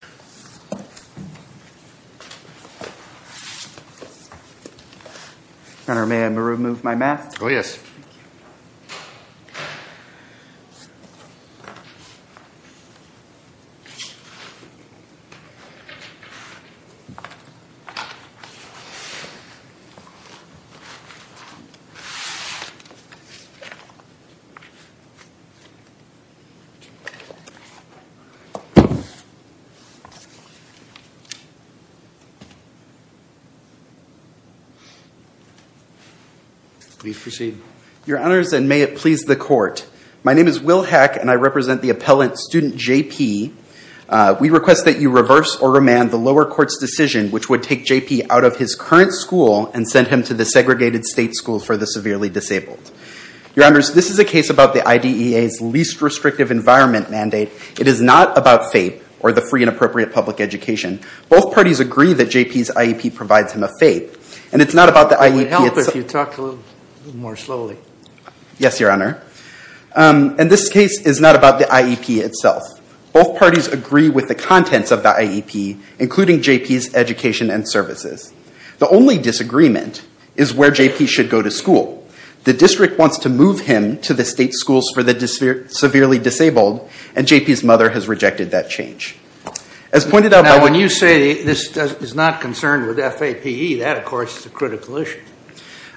Mr. Belton, may I remove my mask? Oh yes. Please proceed. Your Honors, and may it please the Court, my name is Will Hack and I represent the appellant student J.P. We request that you reverse or remand the lower court's decision which would take J.P. out of his current school and send him to the segregated state school for the severely disabled. Your Honors, this is a case about the IDEA's least restrictive environment mandate. It is not about FAPE, or the Free and Appropriate Public Education. Both parties agree that J.P.'s IEP provides him a FAPE, and it's not about the IEP itself. It would help if you talked a little more slowly. Yes, Your Honor. And this case is not about the IEP itself. Both parties agree with the contents of the IEP, including J.P.'s education and services. The only disagreement is where J.P. should go to school. The district wants to move him to the state schools for the severely disabled, and J.P.'s mother has rejected that change. Now when you say this is not concerned with FAPE, that of course is a critical issue.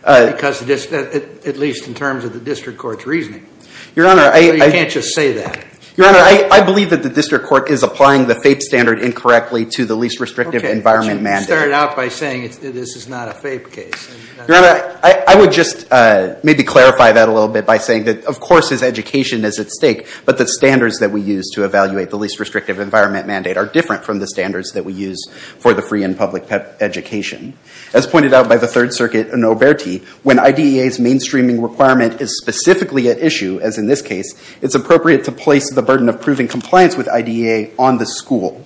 At least in terms of the district court's reasoning. You can't just say that. Your Honor, I believe that the district court is applying the FAPE standard incorrectly to the least restrictive environment mandate. Okay, but you started out by saying this is not a FAPE case. I would just maybe clarify that a little bit by saying that of course his education is at stake, but the standards that we use to evaluate the least restrictive environment mandate are different from the standards that we use for the free and public education. As pointed out by the Third Circuit in Oberti, when IDEA's mainstreaming requirement is specifically at issue, as in this case, it's appropriate to place the burden of proving compliance with IDEA on the school.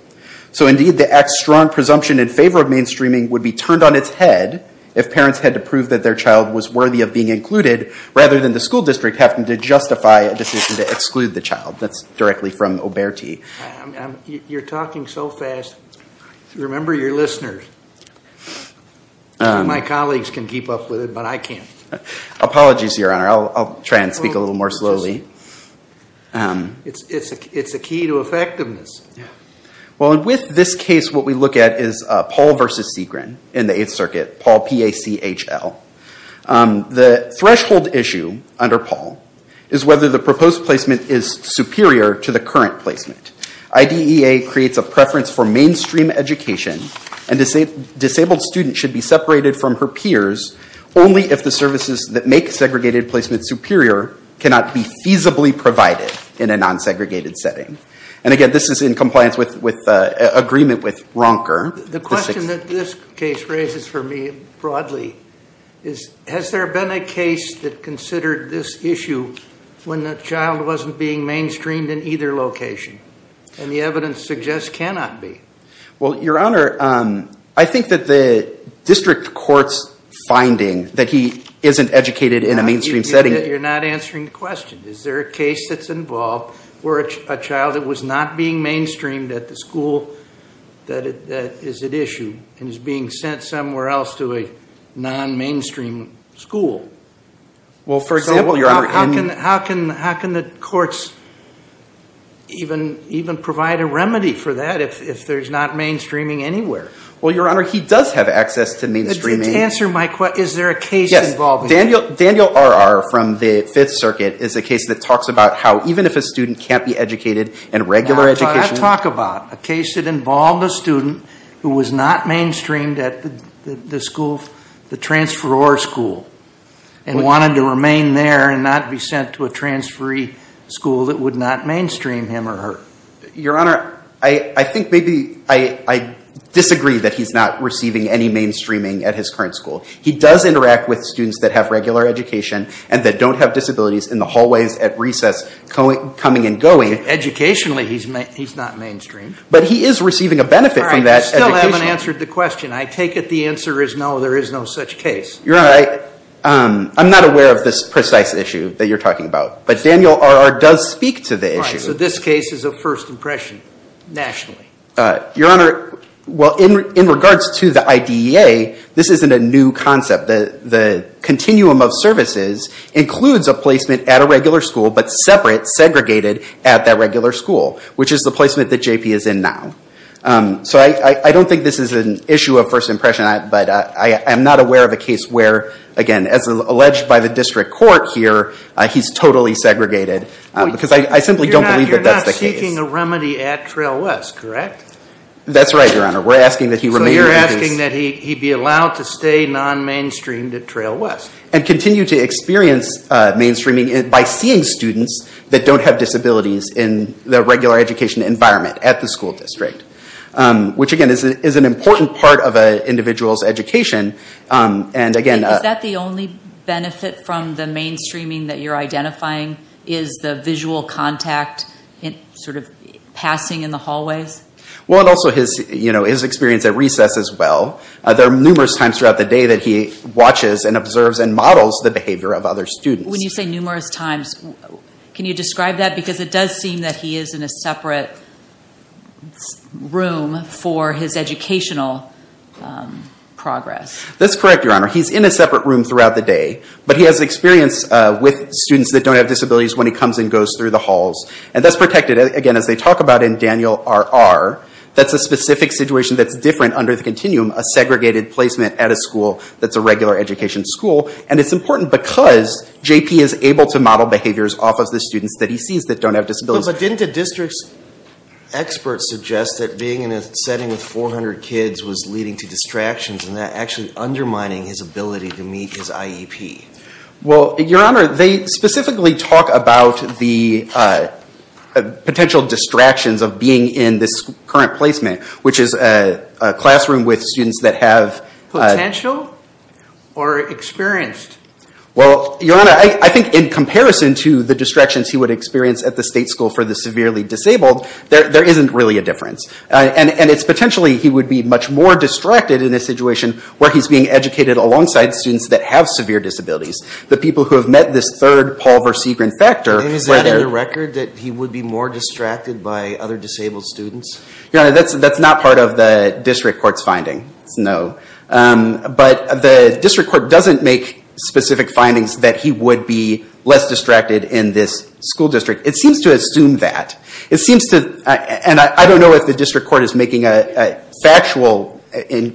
So indeed the act's strong presumption in favor of mainstreaming would be turned on its head if parents had to prove that their child was worthy of being included, rather than the school district having to justify a decision to exclude the child. That's directly from Oberti. You're talking so fast. Remember your listeners. My colleagues can keep up with it, but I can't. Apologies, Your Honor. I'll try and speak a little more slowly. It's a key to effectiveness. Well, with this case, what we look at is Paul v. Segrin in the Eighth Circuit, Paul P-A-C-H-L. The threshold issue under Paul is whether the proposed placement is superior to the current placement. IDEA creates a preference for mainstream education, and disabled students should be separated from her peers only if the services that make segregated placement superior cannot be feasibly provided in a non-segregated setting. And again, this is in compliance with agreement with Ronker. The question that this case raises for me, broadly, is has there been a case that considered this issue when the child wasn't being mainstreamed in either location? And the evidence suggests cannot be. Well, Your Honor, I think that the district court's finding that he isn't educated in a mainstream setting... You're not answering the question. Is there a case that's involved where a child that was not being mainstreamed at the school that is at issue and is being sent somewhere else to a non-mainstream school? Well, for example, Your Honor, in... How can the courts even provide a remedy for that if there's not mainstreaming anywhere? Well, Your Honor, he does have access to mainstreaming. Answer my question. Is there a case involving that? Yes. Daniel R.R. from the Fifth Circuit is a case that talks about how even if a student can't be educated in regular education... Now, but I talk about a case that involved a student who was not mainstreamed at the school, the transferor school, and wanted to remain there and not be sent to a transferee school that would not mainstream him or her. Your Honor, I think maybe I disagree that he's not receiving any mainstreaming at his current school. He does interact with students that have regular education and that don't have disabilities in the hallways at recess coming and going. Educationally, he's not mainstreamed. But he is receiving a benefit from that educationally. All right. You still haven't answered the question. I take it the answer is no, there is no such case. Your Honor, I'm not aware of this precise issue that you're talking about. But Daniel R.R. does speak to the issue. All right. So this case is a first impression nationally. Your Honor, well, in regards to the IDEA, this isn't a new concept. The continuum of services includes a placement at a regular school, but separate, segregated, at that regular school, which is the placement that J.P. is in now. So I don't think this is an issue of first impression. But I am not aware of a case where, again, as alleged by the district court here, he's totally segregated. Because I simply don't believe that that's the case. You're not seeking a remedy at Trail West, correct? That's right, Your Honor. We're asking that he remain at his— So you're asking that he be allowed to stay non-mainstreamed at Trail West? And continue to experience mainstreaming by seeing students that don't have disabilities in the regular education environment at the school district. Which, again, is an important part of an individual's education. And, again— Is that the only benefit from the mainstreaming that you're identifying? Is the visual contact sort of passing in the hallways? Well, and also his experience at recess as well. There are numerous times throughout the day that he watches and observes and models the behavior of other students. When you say numerous times, can you describe that? Because it does seem that he is in a separate room for his educational progress. That's correct, Your Honor. He's in a separate room throughout the day. But he has experience with students that don't have disabilities when he comes and goes through the halls. And that's protected, again, as they talk about in Daniel R.R. That's a specific situation that's different under the continuum. A segregated placement at a school that's a regular education school. And it's important because J.P. is able to model behaviors off of the students that he sees that don't have disabilities. But didn't the district's experts suggest that being in a setting with 400 kids was leading to distractions and that actually undermining his ability to meet his IEP? Well, Your Honor, they specifically talk about the potential distractions of being in this current placement, which is a classroom with students that have... Potential? Or experienced? Well, Your Honor, I think in comparison to the distractions he would experience at the state school for the severely disabled, there isn't really a difference. And it's potentially he would be much more distracted in a situation where he's being educated alongside students that have severe disabilities. The people who have met this third Paul Versegren factor... Is there any record that he would be more distracted by other disabled students? Your Honor, that's not part of the district court's finding. No. But the district court doesn't make specific findings that he would be less distracted in this school district. It seems to assume that. It seems to... And I don't know if the district court is making a factual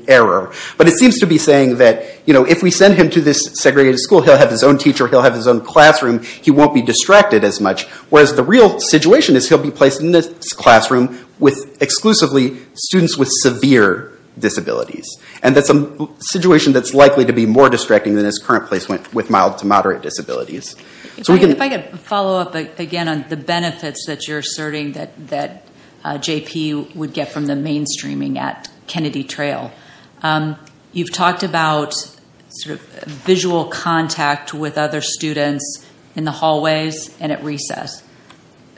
error. But it seems to be saying that, you know, if we send him to this segregated school, he'll have his own teacher. He'll have his own classroom. He won't be distracted as much. Whereas the real situation is he'll be placed in this classroom with exclusively students with severe disabilities. And that's a situation that's likely to be more distracting than his current placement with mild to moderate disabilities. If I could follow up again on the benefits that you're asserting that JP would get from the mainstreaming at Kennedy Trail. You've talked about visual contact with other students in the hallways and at recess.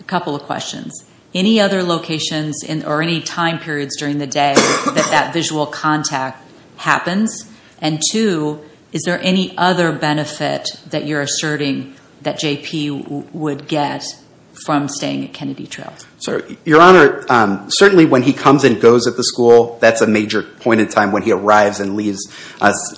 A couple of questions. Any other locations or any time periods during the day that that visual contact happens? And two, is there any other benefit that you're asserting that JP would get from staying at Kennedy Trail? Your Honor, certainly when he comes and goes at the school, that's a major point in time when he arrives and leaves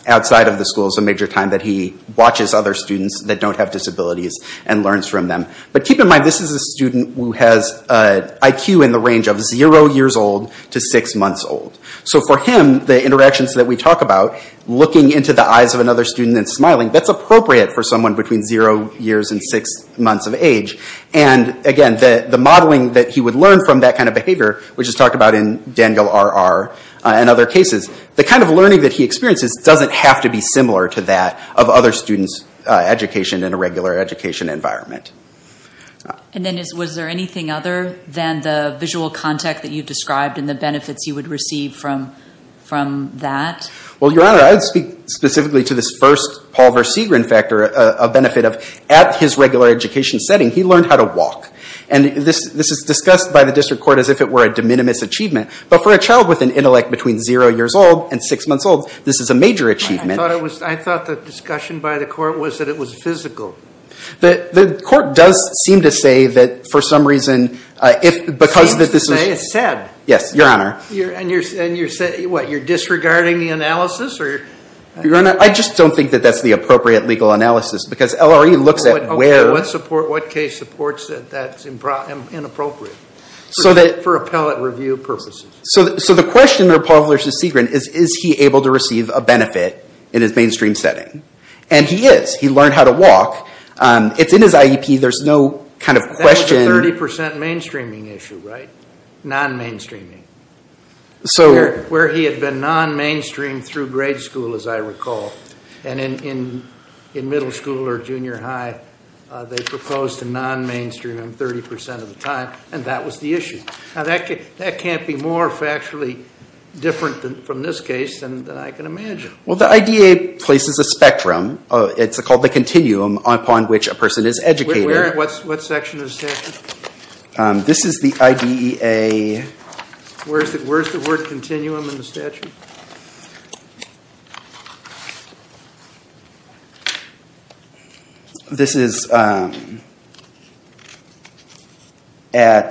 outside of the school. It's a major time that he watches other students that don't have disabilities and learns from them. But keep in mind this is a student who has an IQ in the range of zero years old to six months old. So for him, the interactions that we talk about, looking into the eyes of another student and smiling, that's appropriate for someone between zero years and six months of age. And again, the modeling that he would learn from that kind of behavior, which is talked about in Daniel R.R. and other cases, the kind of learning that he experiences doesn't have to be similar to that of other students' education in a regular education environment. And then was there anything other than the visual contact that you described and the benefits you would receive from that? Well, Your Honor, I would speak specifically to this first Paul Versegren factor, a benefit of at his regular education setting, he learned how to walk. And this is discussed by the district court as if it were a de minimis achievement. But for a child with an intellect between zero years old and six months old, this is a major achievement. I thought the discussion by the court was that it was physical. The court does seem to say that for some reason, if because of this... It seems to say it's said. Yes, Your Honor. And you're saying, what, you're disregarding the analysis or... I just don't think that that's the appropriate legal analysis because LRE looks at where... What case supports that that's inappropriate for appellate review purposes. So the question there, Paul Versegren, is, is he able to receive a benefit in his mainstream setting? And he is. He learned how to walk. It's in his IEP. There's no kind of question... That was a 30% mainstreaming issue, right? Non-mainstreaming. Where he had been non-mainstream through grade school, as I recall. And in middle school or junior high, they proposed a non-mainstreaming 30% of the time, and that was the issue. Now, that can't be more factually different from this case than I can imagine. Well, the IDEA places a spectrum. It's called the continuum upon which a person is educated. What section of the statute? This is the IDEA... Where's the word continuum in the statute? This is at 34 CFR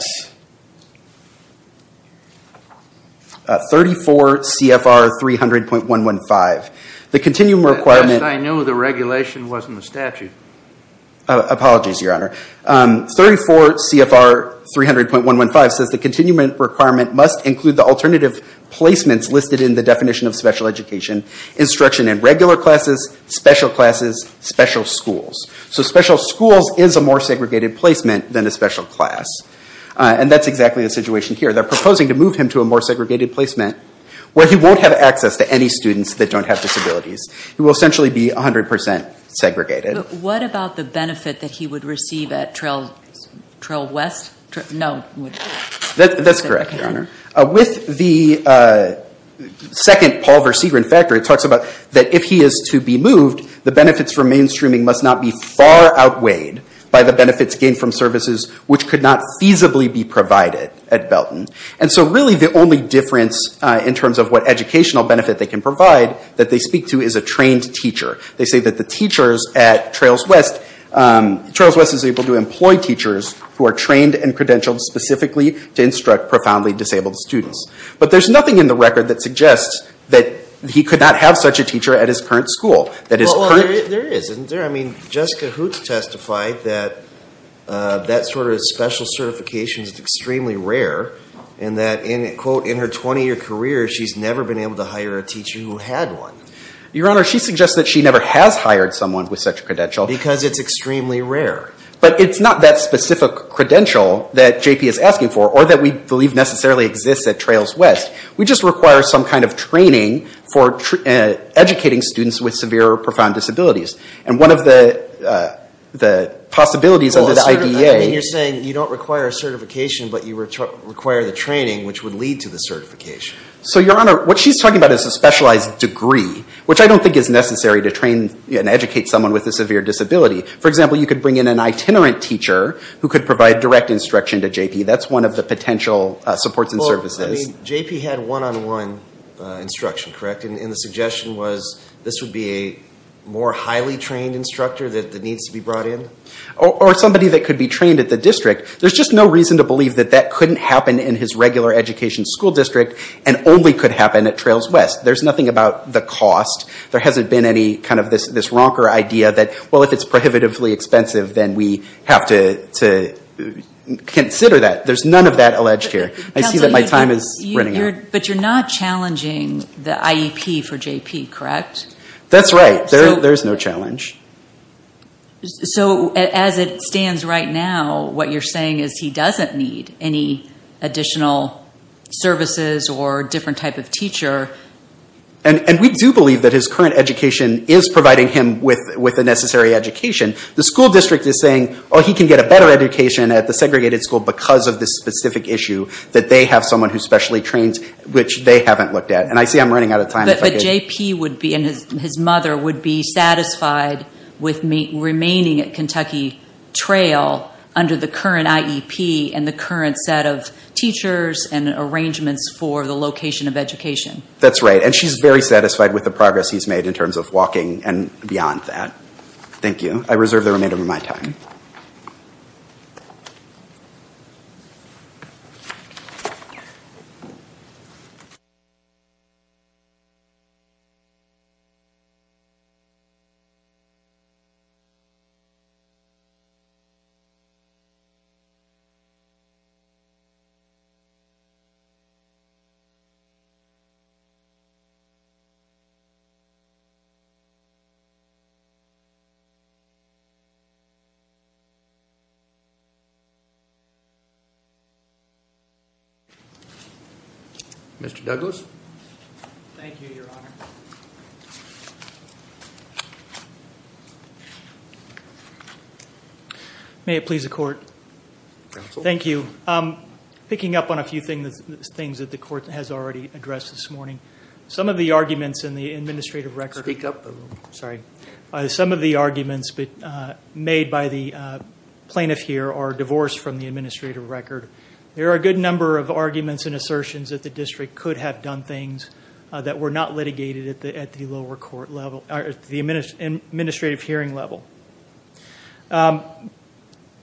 300.115. The continuum requirement... At least I knew the regulation wasn't the statute. Apologies, Your Honor. 34 CFR 300.115 says the continuum requirement must include the definition of special education, instruction in regular classes, special classes, special schools. So special schools is a more segregated placement than a special class. And that's exactly the situation here. They're proposing to move him to a more segregated placement where he won't have access to any students that don't have disabilities. He will essentially be 100% segregated. What about the benefit that he would receive at Trail West? That's correct, Your Honor. With the second Paul Versegren factor, it talks about that if he is to be moved, the benefits for mainstreaming must not be far outweighed by the benefits gained from services which could not feasibly be provided at Belton. And so really the only difference in terms of what educational benefit they can provide that they speak to is a trained teacher. They say that the teachers at Trails West... Trails West is able to employ teachers who are trained and credentialed specifically to instruct profoundly disabled students. But there's nothing in the record that suggests that he could not have such a teacher at his current school. That his current... Well, there is, isn't there? I mean, Jessica Hoots testified that that sort of special certification is extremely rare and that in, quote, in her 20-year career, she's never been able to hire a teacher who had one. Your Honor, she suggests that she never has hired someone with such a credential. Because it's extremely rare. But it's not that specific credential that JP is asking for or that we believe necessarily exists at Trails West. We just require some kind of training for educating students with severe or profound disabilities. And one of the possibilities of the IDA... I mean, you're saying you don't require a certification, but you require the training which would lead to the certification. So Your Honor, what she's talking about is a specialized degree, which I don't think is necessary to train and educate someone with a severe disability. For example, you could bring in an itinerant teacher who could provide direct instruction to JP. That's one of the potential supports and services. Well, I mean, JP had one-on-one instruction, correct? And the suggestion was this would be a more highly trained instructor that needs to be brought in? Or somebody that could be trained at the district. There's just no reason to believe that that couldn't happen in his regular education school district and only could happen at Trails West. There's nothing about the cost. There hasn't been any kind of this ronker idea that, well, if it's prohibitively expensive, then we have to consider that. There's none of that alleged here. I see that my time is running out. But you're not challenging the IEP for JP, correct? That's right. There's no challenge. So as it stands right now, what you're saying is he doesn't need any additional services or a different type of teacher. And we do believe that his current education is providing him with the necessary education. The school district is saying, oh, he can get a better education at the segregated school because of this specific issue, that they have someone who's specially trained, which they haven't looked at. And I see I'm running out of time. But JP would be, and his mother would be, satisfied with remaining at Kentucky Trail under the current IEP and the current set of teachers and arrangements for the location of education. That's right. And she's very satisfied with the progress he's made in terms of walking and beyond that. Thank you. I reserve the remainder of my time. Thank you, Your Honor. May it please the Court. Thank you. Picking up on a few things that the Court has already addressed this morning. Some of the arguments in the administrative record... Speak up a little. Sorry. Some of the arguments made by the plaintiff here are divorced from the administrative record. There are a good number of arguments and assertions that the district could have done things that were not litigated at the lower court level, at the administrative hearing level.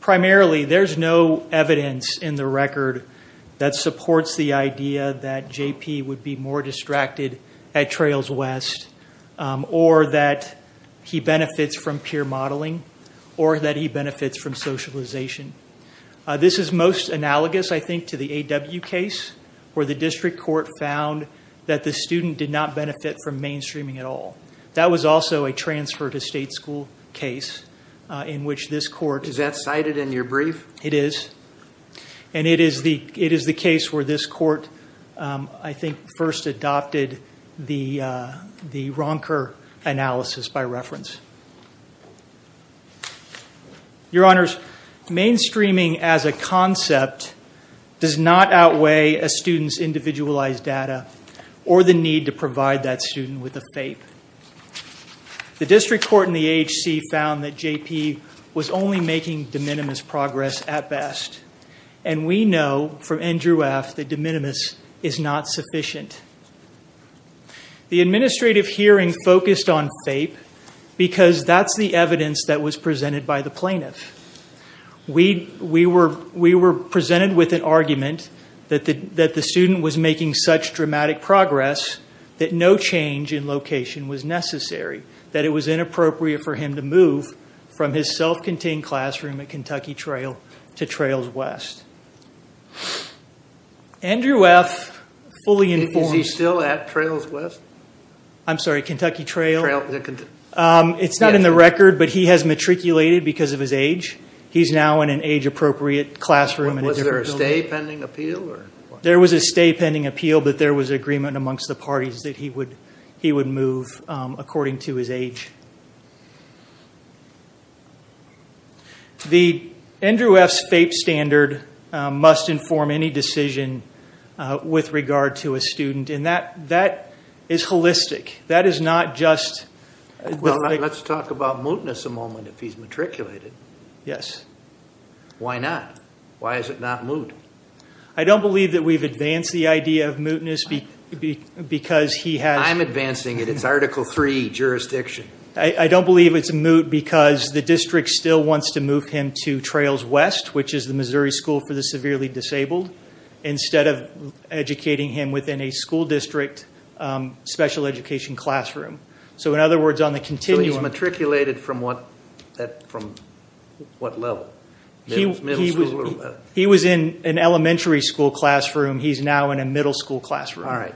Primarily, there's no evidence in the record that supports the idea that JP would be more distracted at Trails West, or that he benefits from peer modeling, or that he benefits from socialization. This is most analogous, I think, to the AW case, where the district court found that the student did not benefit from mainstreaming at all. That was also a transfer to state school case in which this court... Is that cited in your brief? It is. And it is the case where this court, I think, first adopted the Ronker analysis by reference. Your Honors, mainstreaming as a concept does not outweigh a student's individualized data or the need to provide that student with a FAPE. The district court in the AHC found that JP was only making de minimis progress at best, and we know from Andrew F. that de minimis is not sufficient. The administrative hearing focused on FAPE because that's the evidence that was presented by the plaintiff. We were presented with an argument that the student was making such dramatic progress that no change in location was necessary, that it was inappropriate for him to move from his self-contained classroom at Kentucky Trail to Trails West. Andrew F. fully informed... Is he still at Trails West? I'm sorry, Kentucky Trail? It's not in the record, but he has matriculated because of his age. He's now in an age-appropriate classroom. Was there a stay pending appeal? There was a stay pending appeal, but there was agreement amongst the parties that he would move according to his age. The Andrew F.'s FAPE standard must inform any decision with regard to a student, and that is holistic. Let's talk about mootness a moment, if he's matriculated. Why not? Why is it not moot? I don't believe that we've advanced the idea of mootness because he has... I'm advancing it. It's Article 3 jurisdiction. I don't believe it's moot because the district still wants to move him to Trails West, which is the Missouri School for the Severely Disabled, instead of educating him within a school district special education classroom. In other words, on the continuum... He's matriculated from what level? He was in an elementary school classroom. He's now in a middle school classroom.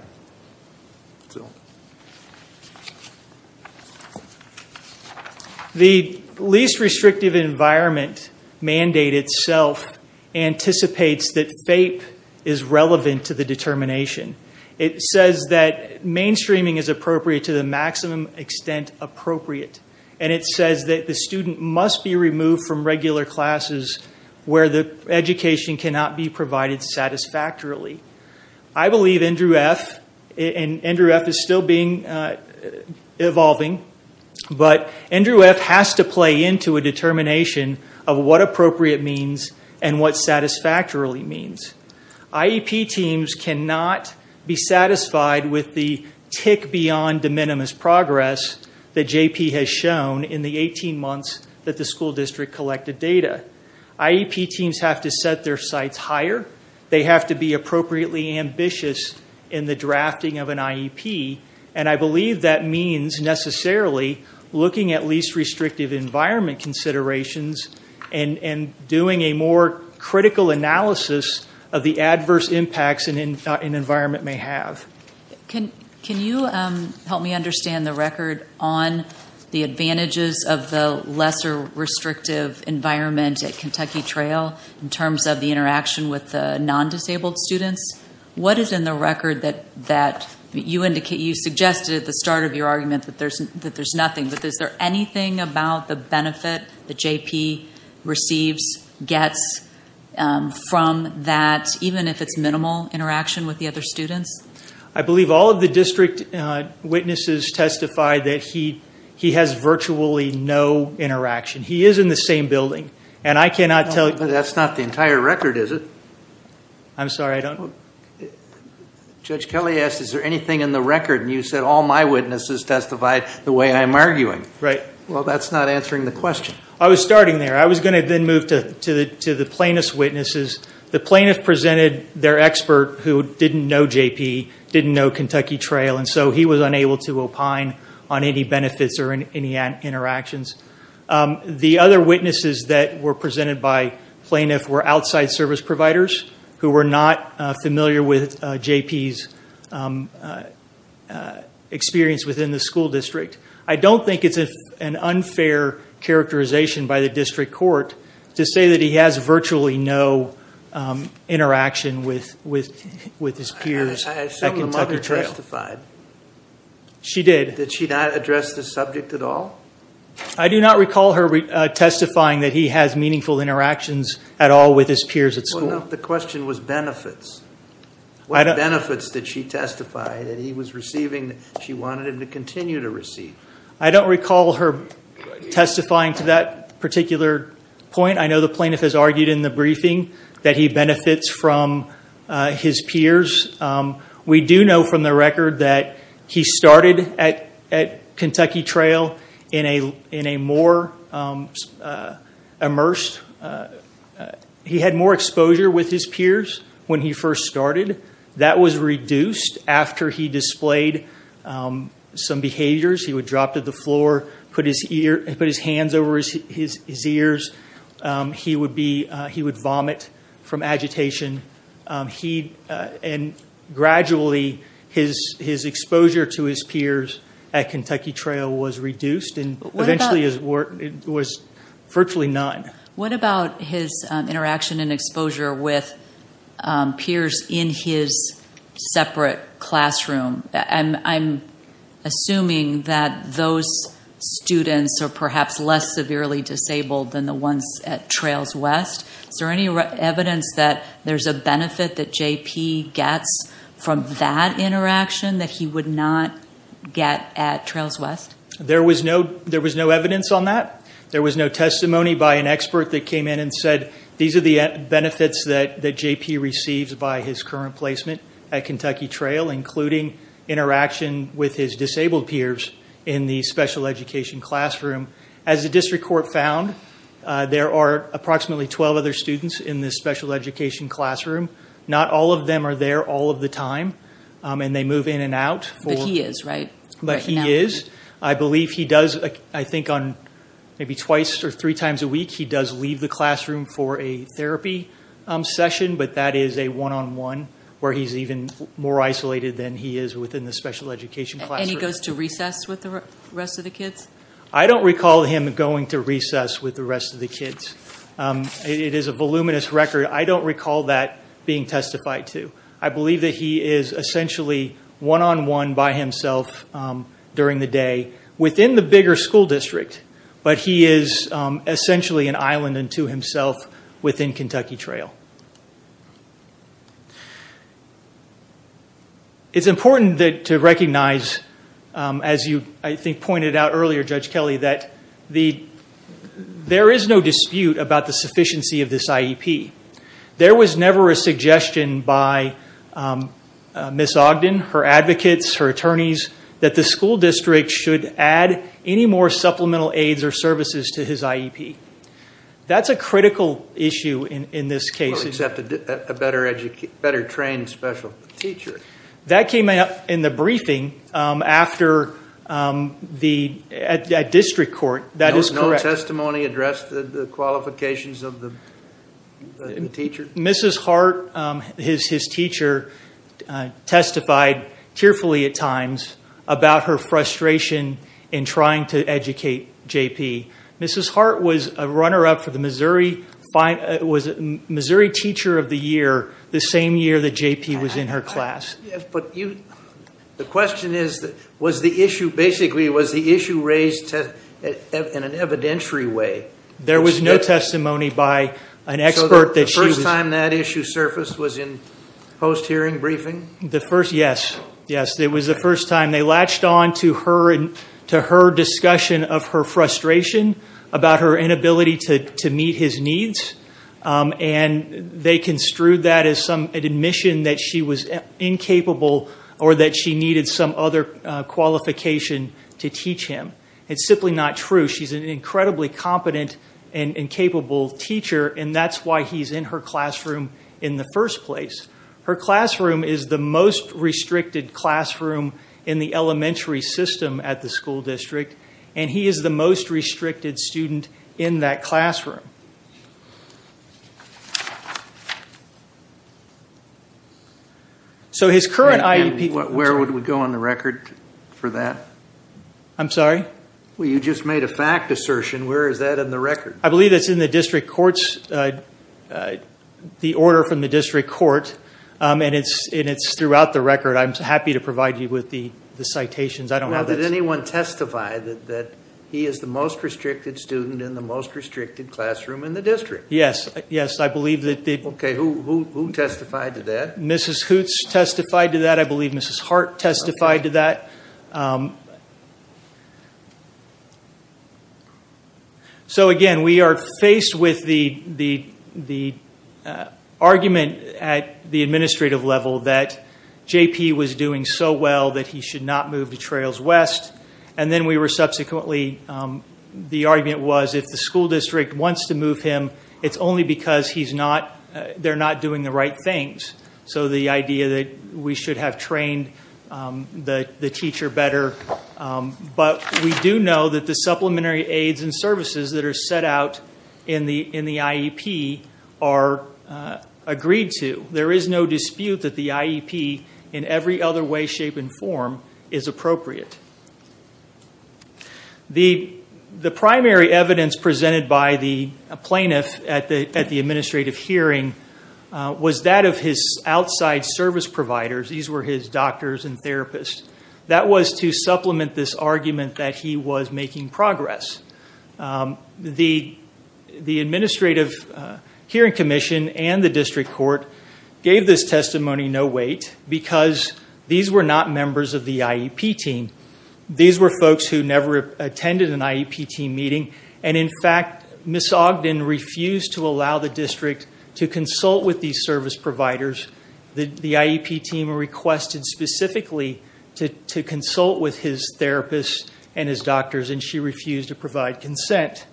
The least restrictive environment mandate itself anticipates that FAPE is relevant to the determination. It says that mainstreaming is appropriate to the maximum extent appropriate, and it says that the student must be removed from regular classes where the education cannot be provided satisfactorily. I believe Andrew F., and Andrew F. is still evolving, but Andrew F. has to play into a determination of what appropriate means and what satisfactorily means. IEP teams cannot be satisfied with the tick beyond de minimis progress that JP has shown in the 18 months that the school district collected data. IEP teams have to set their sights higher. They have to be appropriately ambitious in the drafting of an IEP, and I believe that means necessarily looking at least restrictive environment considerations and doing a more critical analysis of the adverse impacts an environment may have. Can you help me understand the record on the advantages of the lesser restrictive environment at Kentucky Trail in terms of the interaction with the non-disabled students? What is in the record that... You suggested at the start of your argument that there's nothing, but is there anything about the benefit that JP receives, gets from that, even if it's minimal interaction with the other students? I believe all of the district witnesses testified that he has virtually no interaction. He is in the same building, and I cannot tell you... That's not the entire record, is it? I'm sorry, I don't... Judge Kelly asked, is there anything in the record, and you said all my witnesses testified the way I'm arguing. Right. Well, that's not answering the question. I was starting there. I was going to then move to the plaintiff's witnesses. The plaintiff presented their expert who didn't know JP, didn't know Kentucky Trail, and so he was unable to opine on any benefits or any interactions. The other witnesses that were presented by plaintiff were outside service providers who were not familiar with JP's experience within the school district. I don't think it's an unfair characterization by the district court to say that he has virtually no interaction with his peers at Kentucky Trail. I assume the mother testified. She did. Did she not address the subject at all? I do not recall her testifying that he has meaningful interactions at all with his peers at school. Well, no. The question was benefits. What benefits did she testify that he was receiving that she wanted him to continue to receive? I don't recall her testifying to that particular point. I know the plaintiff has argued in the briefing that he benefits from his peers. We do know from the record that he started at Kentucky Trail in a more immersed... He had more exposure with his peers when he first started. That was reduced after he displayed some behaviors. He would drop to the floor, put his hands over his ears. He would vomit from agitation. And gradually, his exposure to his peers at Kentucky Trail was reduced and eventually it was virtually none. What about his interaction and exposure with peers in his separate classroom? I'm assuming that those students are perhaps less severely disabled than the ones at Trails West. Is there any evidence that there's a benefit that J.P. gets from that interaction that he would not get at Trails West? There was no evidence on that. There was no testimony by an expert that came in and said, these are the benefits that J.P. receives by his current placement at Kentucky Trail, including interaction with his disabled peers in the special education classroom. As the district court found, there are approximately 12 other students in the special education classroom. Not all of them are there all of the time. They move in and out. But he is, right? Right now. But he is. I believe he does, I think on maybe twice or three times a week, he does leave the classroom for a therapy session. But that is a one-on-one, where he's even more isolated than he is within the special education classroom. And he goes to recess with the rest of the kids? I don't recall him going to recess with the rest of the kids. It is a voluminous record. I don't recall that being testified to. I believe that he is essentially one-on-one by himself during the day within the bigger school district. But he is essentially an island unto himself within Kentucky Trail. It's important to recognize, as you, I think, pointed out earlier, Judge Kelly, that there is no dispute about the sufficiency of this IEP. There was never a suggestion by Ms. Ogden, her advocates, her attorneys, that the school district should add any more supplemental aids or services to his IEP. That's a critical issue in this case. Well, except a better trained special teacher. That came up in the briefing at district court. That is correct. Did that testimony address the qualifications of the teacher? Mrs. Hart, his teacher, testified tearfully at times about her frustration in trying to educate JP. Mrs. Hart was a runner-up for the Missouri Teacher of the Year the same year that JP was in her class. But the question is, basically, was the issue raised in an evidentiary way? There was no testimony by an expert that she was... So the first time that issue surfaced was in post-hearing briefing? The first, yes. Yes. It was the first time. They latched on to her discussion of her frustration about her inability to meet his needs. And they construed that as some admission that she was incapable or that she needed some other qualification to teach him. It's simply not true. She's an incredibly competent and capable teacher, and that's why he's in her classroom in the first place. Her classroom is the most restricted classroom in the elementary system at the school district, and he is the most restricted student in that classroom. So his current IEP... Where would we go on the record for that? I'm sorry? Well, you just made a fact assertion. Where is that in the record? I believe it's in the district court's... The order from the district court, and it's throughout the record. I'm happy to provide you with the citations. I don't know that's... He is the most restricted student in the most restricted classroom in the district. Yes. Yes. I believe that... Okay. Who testified to that? Mrs. Hoots testified to that. I believe Mrs. Hart testified to that. So again, we are faced with the argument at the administrative level that JP was doing so well that he should not move to Trails West. And then we were subsequently... The argument was if the school district wants to move him, it's only because they're not doing the right things. So the idea that we should have trained the teacher better, but we do know that the supplementary aids and services that are set out in the IEP are agreed to. There is no dispute that the IEP, in every other way, shape, and form, is appropriate. The primary evidence presented by the plaintiff at the administrative hearing was that of his outside service providers. These were his doctors and therapists. That was to supplement this argument that he was making progress. The administrative hearing commission and the district court gave this testimony no weight because these were not members of the IEP team. These were folks who never attended an IEP team meeting, and in fact, Ms. Ogden refused to allow the district to consult with these service providers. The IEP team requested specifically to consult with his therapists and his doctors, and she refused to provide consent.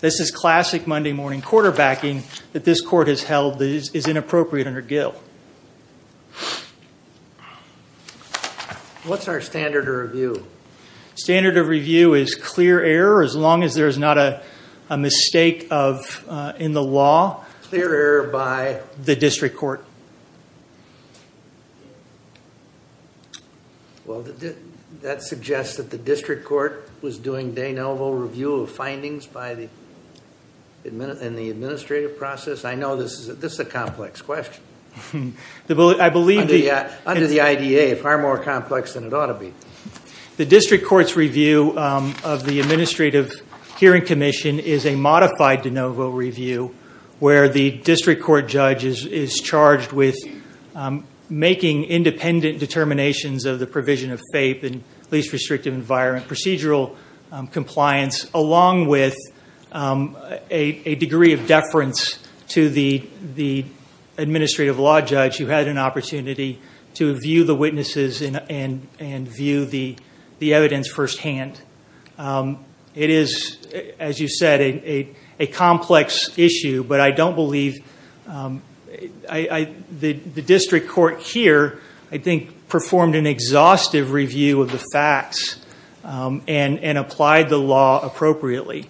This is classic Monday morning quarterbacking that this court has held that is inappropriate under Gill. What's our standard of review? Standard of review is clear error, as long as there is not a mistake in the law. Clear error by? The district court. Well, that suggests that the district court was doing de novo review of findings in the administrative process. I know this is a complex question. Under the IDA, it's far more complex than it ought to be. The district court's review of the administrative hearing commission is a modified de novo review where the district court judge is charged with making independent determinations of the provision of FAPE and least restrictive environment procedural compliance along with a degree of deference to the administrative law judge who had an opportunity to view the witnesses and view the evidence firsthand. It is, as you said, a complex issue, but I don't believe the district court here, I think, performed an exhaustive review of the facts and applied the law appropriately.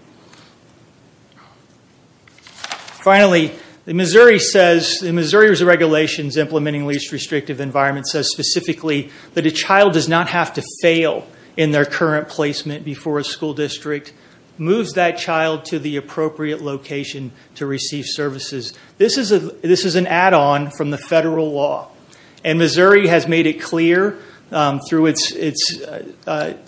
Finally, Missouri says, the Missouri Regulations Implementing Least Restrictive Environment says specifically that a child does not have to fail in their current placement before a school district, moves that child to the appropriate location to receive services. This is an add-on from the federal law, and Missouri has made it clear through its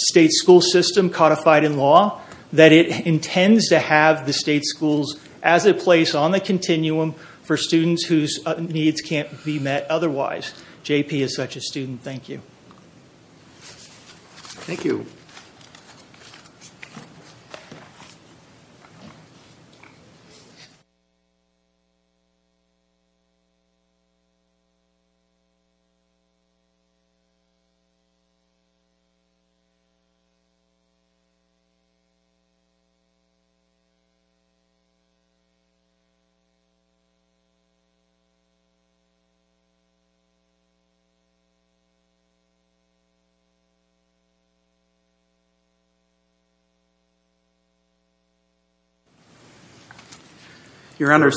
state school system codified in law that it intends to have the state schools as a place on the campus. As such a student, thank you. Your Honor,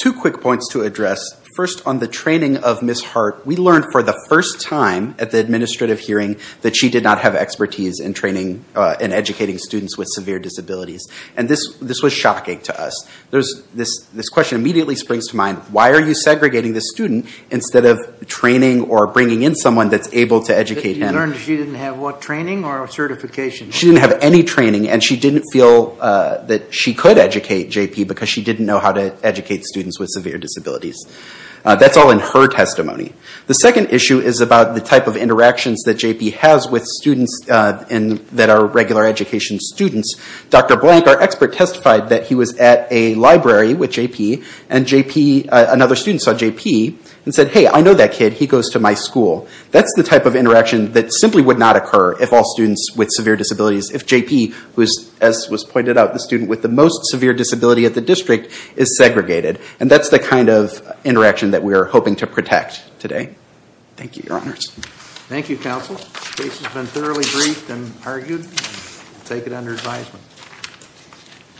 two quick points to address. First on the training of Ms. Hart, we learned for the first time at the administrative hearing that she did not have expertise in training and educating students with severe disabilities. And this was shocking to us. This question immediately springs to mind, why are you segregating this student instead of training or bringing in someone that's able to educate him? But you learned she didn't have what training or certification? She didn't have any training, and she didn't feel that she could educate JP because she didn't know how to educate students with severe disabilities. That's all in her testimony. The second issue is about the type of interactions that JP has with students that are regular education students. Dr. Blank, our expert, testified that he was at a library with JP, and another student saw JP and said, hey, I know that kid. He goes to my school. That's the type of interaction that simply would not occur if all students with severe disabilities, if JP, who is, as was pointed out, the student with the most severe disability at the district, is segregated. And that's the kind of interaction that we are hoping to protect today. Thank you, Your Honors. Thank you, counsel. The case has been thoroughly briefed and argued. We'll take it under advisement.